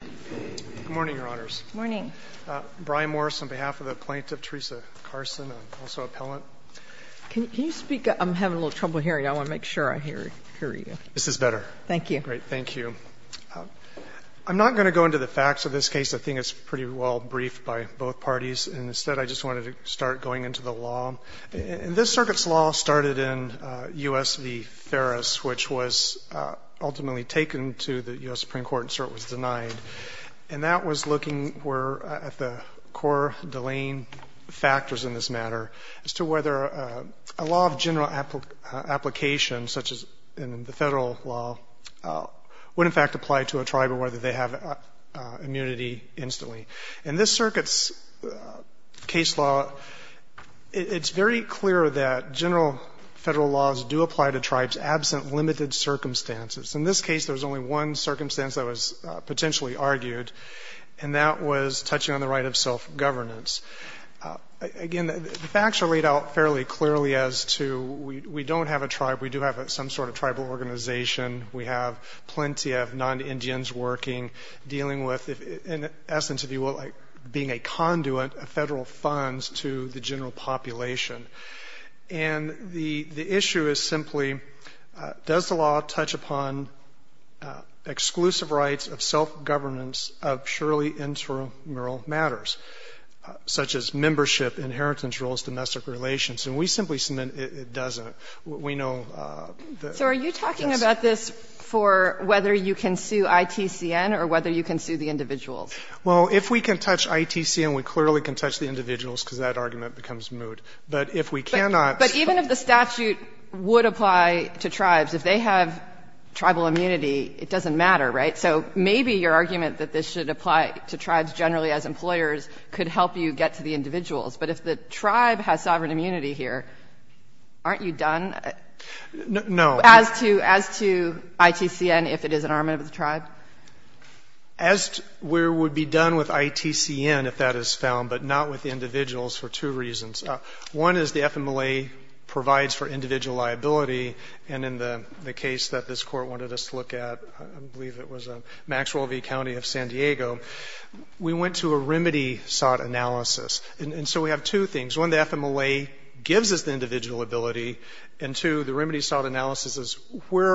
Good morning, Your Honors. Good morning. Brian Morris on behalf of the plaintiff, Teresa Carsten, and also appellant. Can you speak? I'm having a little trouble hearing. I want to make sure I hear you. This is better. Thank you. Great. Thank you. I'm not going to go into the facts of this case. I think it's pretty well briefed by both parties. Instead, I just wanted to start going into the law. And this circuit's law started in U.S. v. Ferris, which was ultimately taken to the U.S. Supreme Court and so it was denied. And that was looking at the core delaying factors in this matter as to whether a law of general application, such as in the federal law, would in fact apply to a tribe or whether they have immunity instantly. In this circuit's case law, it's very clear that general federal laws do apply to tribes absent limited circumstances. In this case, there was only one circumstance that was potentially argued, and that was touching on the right of self-governance. Again, the facts are laid out fairly clearly as to we don't have a tribe. We do have some sort of tribal organization. We have plenty of non-Indians working, dealing with. In essence, if you will, being a conduit of Federal funds to the general population. And the issue is simply, does the law touch upon exclusive rights of self-governance of surely intramural matters, such as membership, inheritance rules, domestic relations? And we simply submit it doesn't. We know that's not true. So it's a question of whether you can sue ITCN or whether you can sue the individuals. Well, if we can touch ITCN, we clearly can touch the individuals, because that argument becomes moot. But if we cannot. But even if the statute would apply to tribes, if they have tribal immunity, it doesn't matter, right? So maybe your argument that this should apply to tribes generally as employers could help you get to the individuals. But if the tribe has sovereign immunity here, aren't you done? No. As to ITCN, if it is an armament of the tribe? As where it would be done with ITCN, if that is found, but not with individuals for two reasons. One is the FMLA provides for individual liability. And in the case that this Court wanted us to look at, I believe it was Maxwell v. County of San Diego, we went to a remedy sought analysis. And so we have two things. One, the FMLA gives us the individual ability. And two, the remedy sought analysis is where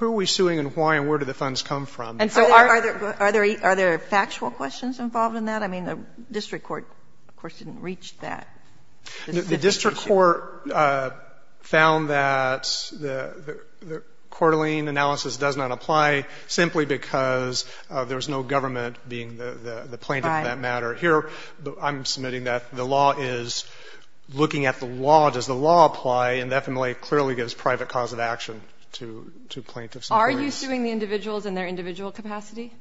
are we suing and why and where do the funds come from? And so are there factual questions involved in that? I mean, the district court, of course, didn't reach that. The district court found that the Coeur d'Alene analysis does not apply simply because there is no government being the plaintiff in that matter. Right. Here, I'm submitting that the law is looking at the law. Does the law apply? And FMLA clearly gives private cause of action to plaintiffs. Are you suing the individuals in their individual capacity?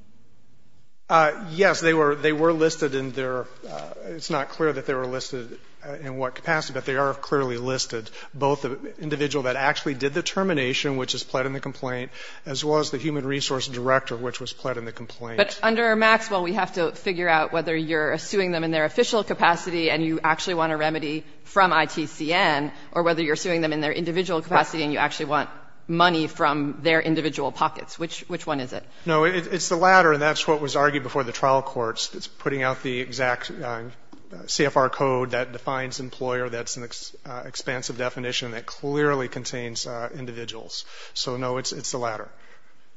Yes. They were listed in their ‑‑ it's not clear that they were listed in what capacity, but they are clearly listed, both the individual that actually did the termination, which is pled in the complaint, as well as the human resource director, which was pled in the complaint. But under Maxwell, we have to figure out whether you're suing them in their official capacity and you actually want a remedy from ITCN, or whether you're suing them in their individual capacity and you actually want money from their individual pockets. Which one is it? No. It's the latter, and that's what was argued before the trial courts. It's putting out the exact CFR code that defines employer. That's an expansive definition that clearly contains individuals. So, no, it's the latter.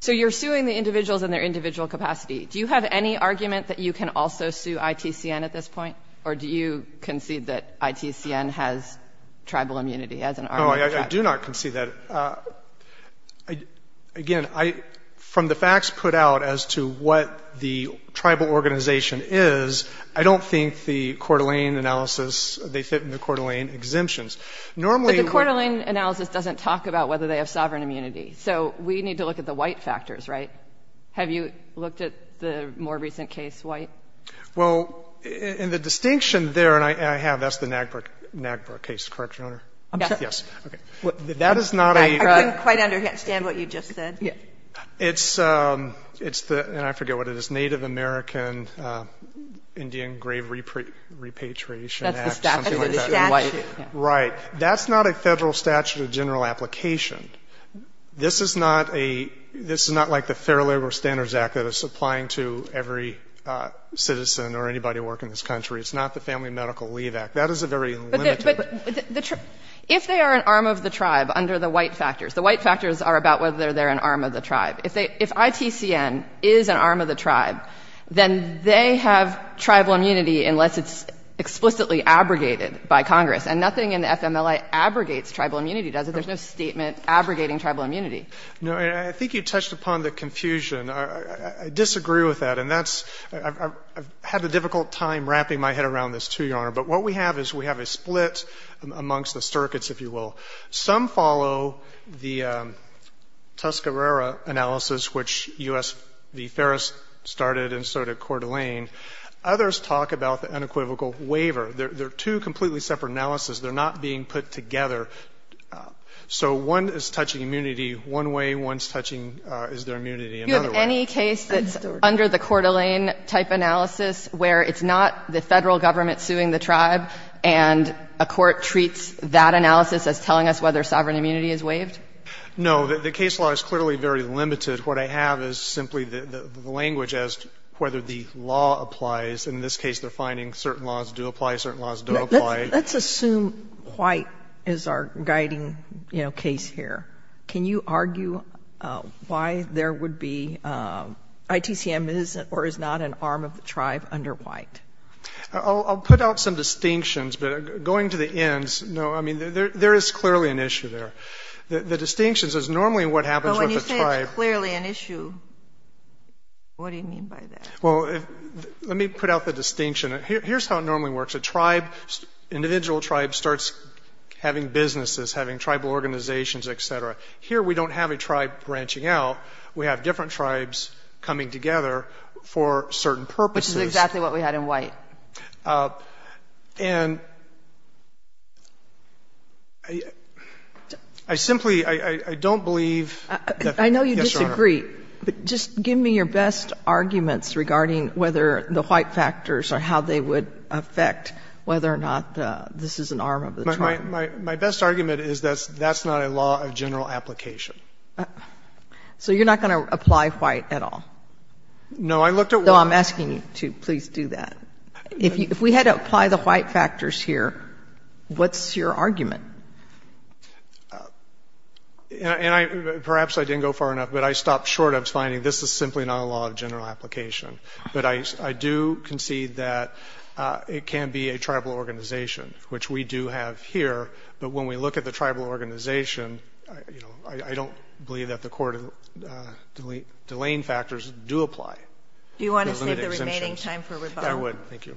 So you're suing the individuals in their individual capacity. Do you have any argument that you can also sue ITCN at this point? Or do you concede that ITCN has tribal immunity as an arm of the tribe? No, I do not concede that. Again, from the facts put out as to what the tribal organization is, I don't think the Coeur d'Alene analysis, they fit in the Coeur d'Alene exemptions. Normally ‑‑ But the Coeur d'Alene analysis doesn't talk about whether they have sovereign immunity. So we need to look at the white factors, right? Have you looked at the more recent case, white? Well, in the distinction there, and I have, that's the NAGPRA case. Correct, Your Honor? Yes. That is not a ‑‑ I couldn't quite understand what you just said. It's the ‑‑ and I forget what it is, Native American Indian Grave Repatriation Act, something like that. Right. That's not a Federal statute of general application. This is not a ‑‑ this is not like the Fair Labor Standards Act that is applying to every citizen or anybody working in this country. It's not the Family Medical Leave Act. That is a very limited ‑‑ But the ‑‑ if they are an arm of the tribe under the white factors, the white factors are about whether they're an arm of the tribe. If ITCN is an arm of the tribe, then they have tribal immunity unless it's explicitly abrogated by Congress. And nothing in the FMLA abrogates tribal immunity, does it? There's no statement abrogating tribal immunity. No. And I think you touched upon the confusion. I disagree with that. And that's ‑‑ I've had a difficult time wrapping my head around this, too, Your Honor. But what we have is we have a split amongst the circuits, if you will. Some follow the Tuscarora analysis, which U.S. ‑‑ the Ferris started and so did Coeur d'Alene. Others talk about the unequivocal waiver. They're two completely separate analyses. They're not being put together. So one is touching immunity one way, one is touching is there immunity another way. Do you have any case that's under the Coeur d'Alene type analysis where it's not the Federal government suing the tribe and a court treats that analysis as telling us whether sovereign immunity is waived? No. The case law is clearly very limited. What I have is simply the language as to whether the law applies. Let's assume white is our guiding, you know, case here. Can you argue why there would be ‑‑ ITCM is or is not an arm of the tribe under white? I'll put out some distinctions. But going to the ends, no, I mean, there is clearly an issue there. The distinctions is normally what happens with the tribe. But when you say it's clearly an issue, what do you mean by that? Well, let me put out the distinction. Here's how it normally works. A tribe, individual tribe starts having businesses, having tribal organizations, et cetera. Here we don't have a tribe branching out. We have different tribes coming together for certain purposes. Which is exactly what we had in white. And I simply, I don't believe that ‑‑ I know you disagree. Yes, Your Honor. But just give me your best arguments regarding whether the white factors or how they would affect whether or not this is an arm of the tribe. My best argument is that's not a law of general application. So you're not going to apply white at all? No, I looked at white. No, I'm asking you to please do that. If we had to apply the white factors here, what's your argument? And I, perhaps I didn't go far enough, but I stopped short of finding this is simply not a law of general application. But I do concede that it can be a tribal organization, which we do have here. But when we look at the tribal organization, you know, I don't believe that the court delaying factors do apply. Do you want to save the remaining time for rebuttal? I would. Thank you.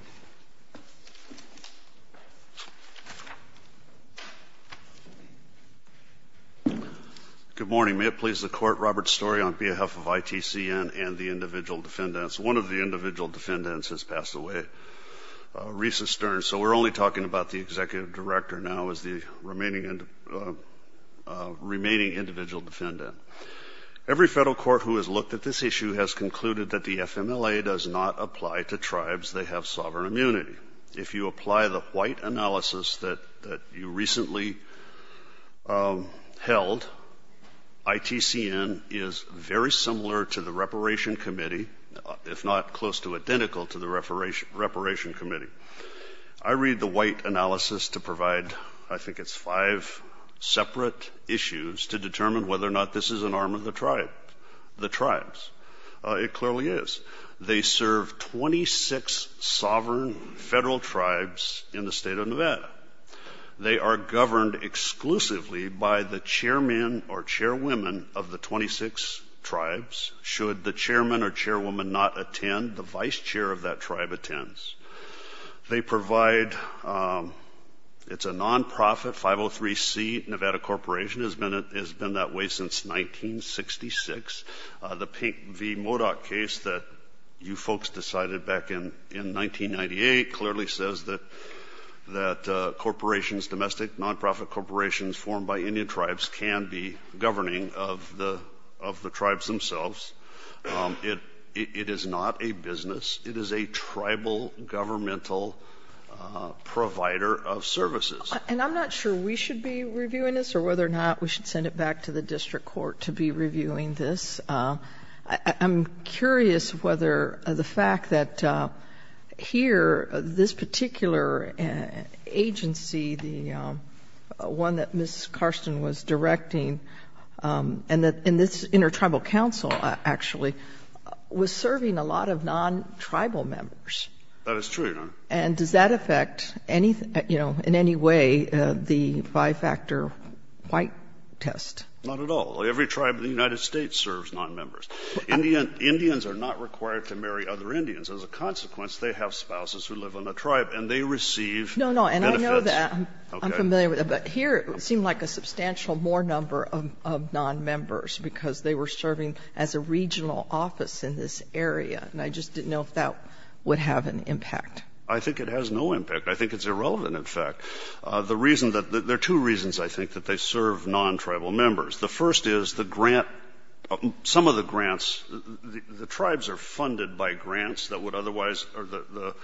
Good morning. May it please the Court, Robert Story, on behalf of ITCN and the individual defendants. One of the individual defendants has passed away, Risa Stern, so we're only talking about the executive director now as the remaining individual defendant. Every federal court who has looked at this issue has concluded that the FMLA does not apply to tribes that have sovereign immunity. If you apply the white analysis that you recently held, ITCN is very similar to the reparation committee, if not close to identical to the reparation committee. I read the white analysis to provide, I think it's five separate issues, to determine whether or not this is an arm of the tribe, the tribes. It clearly is. They serve 26 sovereign federal tribes in the state of Nevada. They are governed exclusively by the chairman or chairwomen of the 26 tribes. Should the chairman or chairwoman not attend, the vice chair of that tribe attends. They provide, it's a nonprofit, 503C Nevada Corporation, has been that way since 1966. The Pink v. Modoc case that you folks decided back in 1998 clearly says that corporations, domestic nonprofit corporations formed by Indian tribes can be governing of the tribes themselves. It is not a business. It is a tribal governmental provider of services. And I'm not sure we should be reviewing this or whether or not we should send it back to the district court to be reviewing this. I'm curious whether the fact that here this particular agency, the one that Ms. Karsten was directing, and this intertribal council actually, was serving a lot of non-tribal members. That is true, Your Honor. And does that affect any, you know, in any way the five-factor white test? Not at all. Every tribe in the United States serves non-members. Indians are not required to marry other Indians. As a consequence, they have spouses who live in a tribe and they receive benefits. No, no. And I know that. I'm familiar with that. But here it seemed like a substantial more number of non-members because they were serving as a regional office in this area. And I just didn't know if that would have an impact. I think it has no impact. I think it's irrelevant, in fact. There are two reasons, I think, that they serve non-tribal members. The first is the grant, some of the grants, the tribes are funded by grants that would otherwise, or the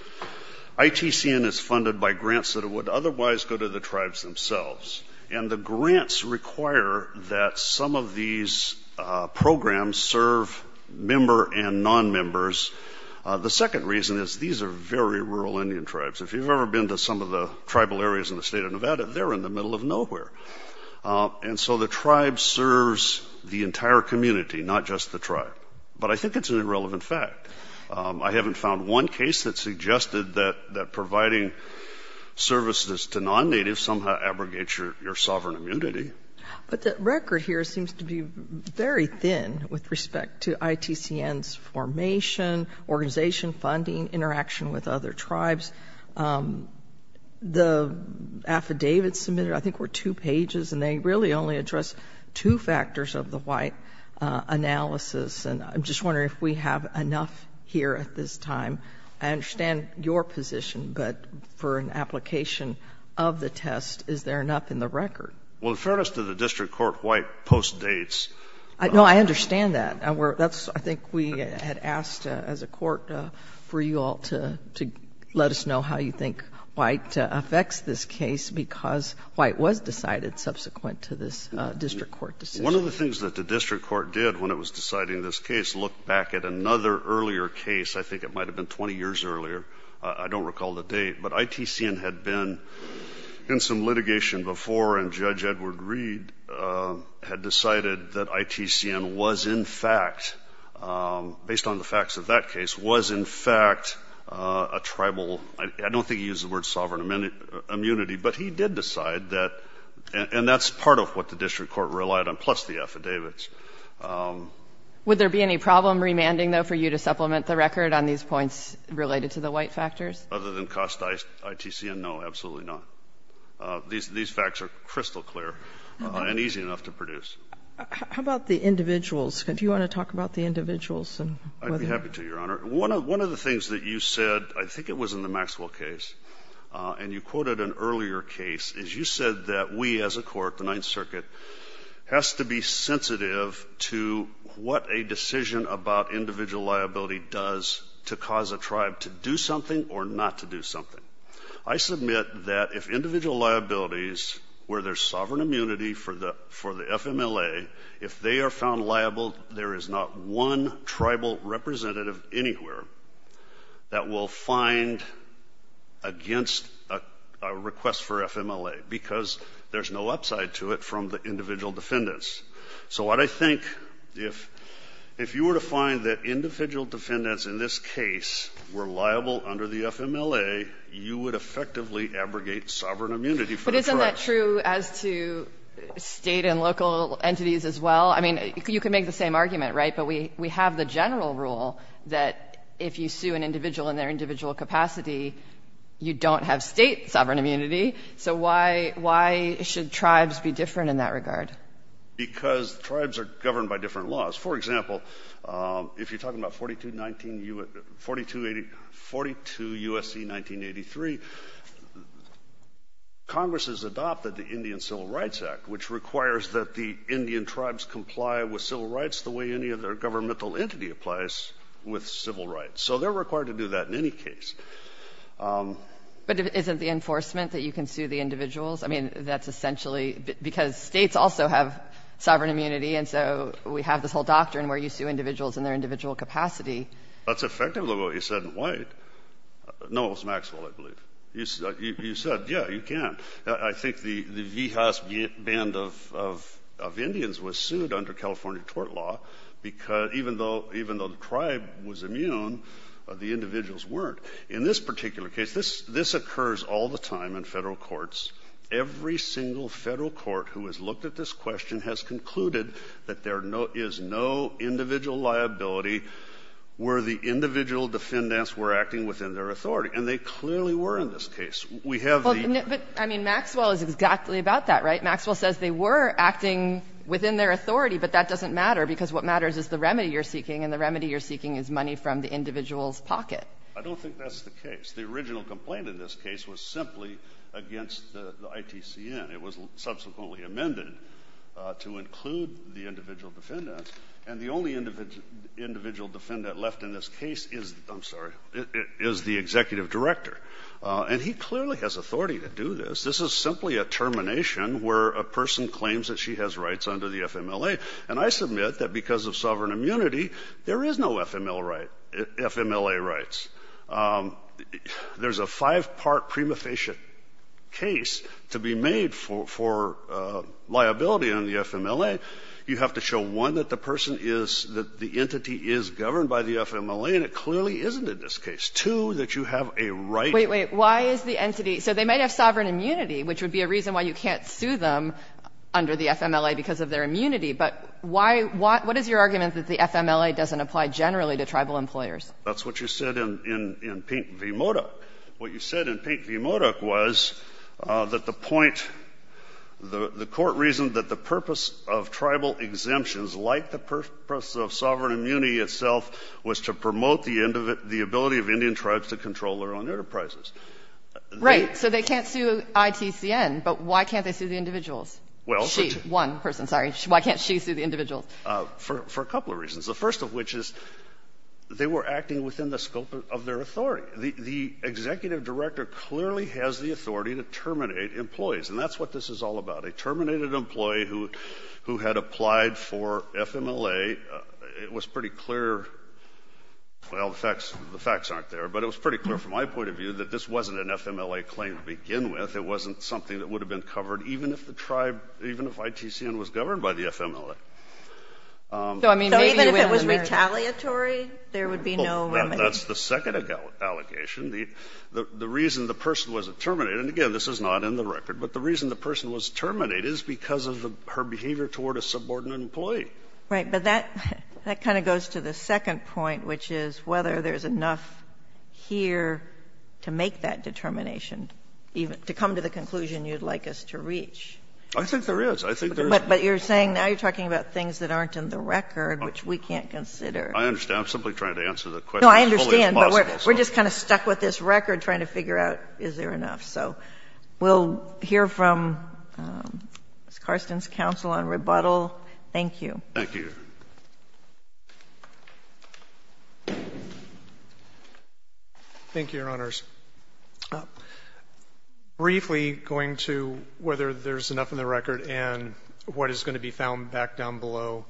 ITCN is funded by grants that would otherwise go to the tribes themselves. And the grants require that some of these programs serve member and non-members. The second reason is these are very rural Indian tribes. If you've ever been to some of the tribal areas in the state of Nevada, they're in the middle of nowhere. And so the tribe serves the entire community, not just the tribe. But I think it's an irrelevant fact. I haven't found one case that suggested that providing services to non-natives somehow abrogates your sovereign immunity. But the record here seems to be very thin with respect to ITCN's formation, organization, funding, interaction with other tribes. The affidavits submitted, I think were two pages, and they really only address two factors of the White analysis. And I'm just wondering if we have enough here at this time. I understand your position, but for an application of the test, is there enough in the record? Well, in fairness to the district court, White postdates. No, I understand that. I think we had asked as a court for you all to let us know how you think White affects this case because White was decided subsequent to this district court decision. One of the things that the district court did when it was deciding this case, looked back at another earlier case. I think it might have been 20 years earlier. I don't recall the date. But ITCN had been in some litigation before, and Judge Edward Reed had decided that ITCN was in fact, based on the facts of that case, was in fact a tribal, I don't think he used the word sovereign immunity, but he did decide that, and that's part of what the district court relied on, plus the affidavits. Would there be any problem remanding, though, for you to supplement the record on these points related to the White factors? Other than cost ITCN, no, absolutely not. These facts are crystal clear and easy enough to produce. How about the individuals? Do you want to talk about the individuals? I'd be happy to, Your Honor. One of the things that you said, I think it was in the Maxwell case, and you quoted an earlier case, is you said that we as a court, the Ninth Circuit, has to be sensitive to what a decision about individual liability does to cause a tribe to do something or not to do something. I submit that if individual liabilities were their sovereign immunity for the FMLA, if they are found liable, there is not one tribal representative anywhere that will find against a request for FMLA, because there's no upside to it from the individual defendants. So what I think, if you were to find that individual defendants in this case were liable under the FMLA, you would effectively abrogate sovereign immunity for the tribe. But isn't that true as to State and local entities as well? I mean, you can make the same argument, right? But we have the general rule that if you sue an individual in their individual capacity, you don't have State sovereign immunity. So why should tribes be different in that regard? Because tribes are governed by different laws. For example, if you're talking about 42 U.S.C. 1983, Congress has adopted the Indian Civil Rights Act, which requires that the Indian tribes comply with civil rights the way any other governmental entity applies with civil rights. So they're required to do that in any case. But isn't the enforcement that you can sue the individuals? I mean, that's essentially because States also have sovereign immunity, and so we have this whole doctrine where you sue individuals in their individual capacity. That's effectively what you said in White. No, it was Maxwell, I believe. You said, yeah, you can. I think the Vihas Band of Indians was sued under California tort law, because even though the tribe was immune, the individuals weren't. In this particular case, this occurs all the time in federal courts. Every single federal court who has looked at this question has concluded that there is no individual liability where the individual defendants were acting within their authority, and they clearly were in this case. We have the ---- But, I mean, Maxwell is exactly about that, right? Maxwell says they were acting within their authority, but that doesn't matter, because what matters is the remedy you're seeking, and the remedy you're seeking is money from the individual's pocket. I don't think that's the case. The original complaint in this case was simply against the ITCN. It was subsequently amended to include the individual defendants, and the only individual defendant left in this case is the executive director. And he clearly has authority to do this. This is simply a termination where a person claims that she has rights under the FMLA, and I submit that because of sovereign immunity, there is no FMLA rights. There's a five-part prima facie case to be made for liability under the FMLA. You have to show, one, that the person is, that the entity is governed by the FMLA, and it clearly isn't in this case. Two, that you have a right to ---- Wait, wait. Why is the entity ---- so they might have sovereign immunity, which would be a reason why you can't sue them under the FMLA because of their immunity, but why ---- what is your argument that the FMLA doesn't apply generally to tribal employers? That's what you said in Pink v. Modok. What you said in Pink v. Modok was that the point, the court reasoned that the purpose of tribal exemptions, like the purpose of sovereign immunity itself, was to promote the ability of Indian tribes to control their own enterprises. Right. So they can't sue ITCN, but why can't they sue the individuals? She, one person, sorry. Why can't she sue the individuals? For a couple of reasons. The first of which is they were acting within the scope of their authority. The executive director clearly has the authority to terminate employees, and that's what this is all about. A terminated employee who had applied for FMLA, it was pretty clear ---- well, the facts aren't there, but it was pretty clear from my point of view that this wasn't an FMLA claim to begin with. It wasn't something that would have been covered even if the tribe, even if ITCN was governed by the FMLA. So even if it was retaliatory, there would be no remedy. That's the second allegation. The reason the person wasn't terminated, and again, this is not in the record, but the reason the person was terminated is because of her behavior toward a subordinate employee. Right. But that kind of goes to the second point, which is whether there's enough here to make that determination, even to come to the conclusion you'd like us to reach. I think there is. I think there is. But you're saying now you're talking about things that aren't in the record, which we can't consider. I understand. I'm simply trying to answer the question as fully as possible. No, I understand, but we're just kind of stuck with this record trying to figure out is there enough. So we'll hear from Ms. Karsten's counsel on rebuttal. Thank you. Thank you, Your Honor. Thank you, Your Honors. Briefly, going to whether there's enough in the record and what is going to be found back down below.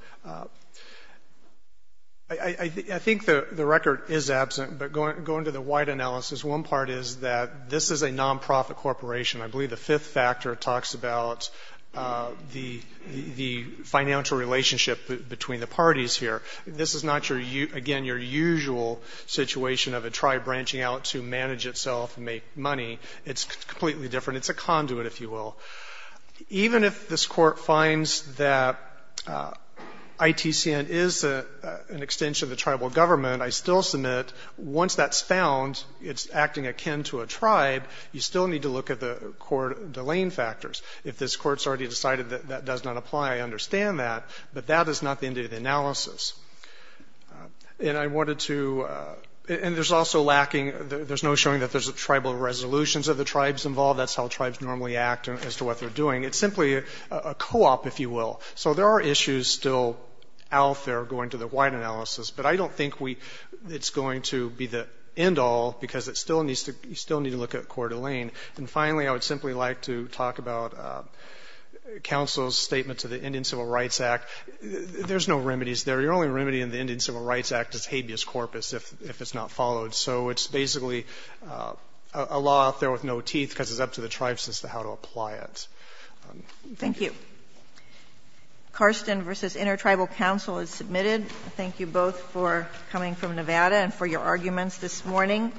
I think the record is absent, but going to the wide analysis, one part is that this is a nonprofit corporation. I believe the fifth factor talks about the financial relationship between the parties here. This is not, again, your usual situation of a tribe branching out to manage itself and make money. It's completely different. It's a conduit, if you will. Even if this Court finds that ITCN is an extension of the tribal government, I still submit once that's found, it's acting akin to a tribe, you still need to look at the court delaying factors. If this Court's already decided that that does not apply, I understand that, but that is not the end of the analysis. And I wanted to, and there's also lacking, there's no showing that there's tribal resolutions of the tribes involved. That's how tribes normally act as to what they're doing. It's simply a co-op, if you will. So there are issues still out there going to the wide analysis, but I don't think it's going to be the end all, because it still needs to, you still need to look at court delaying. And finally, I would simply like to talk about counsel's statement to the Indian Civil Rights Act. There's no remedies there. The only remedy in the Indian Civil Rights Act is habeas corpus if it's not followed. So it's basically a law out there with no teeth because it's up to the tribes as to how to apply it. Thank you. Thank you. Karsten versus Intertribal Council is submitted. Thank you both for coming from Nevada and for your arguments this morning.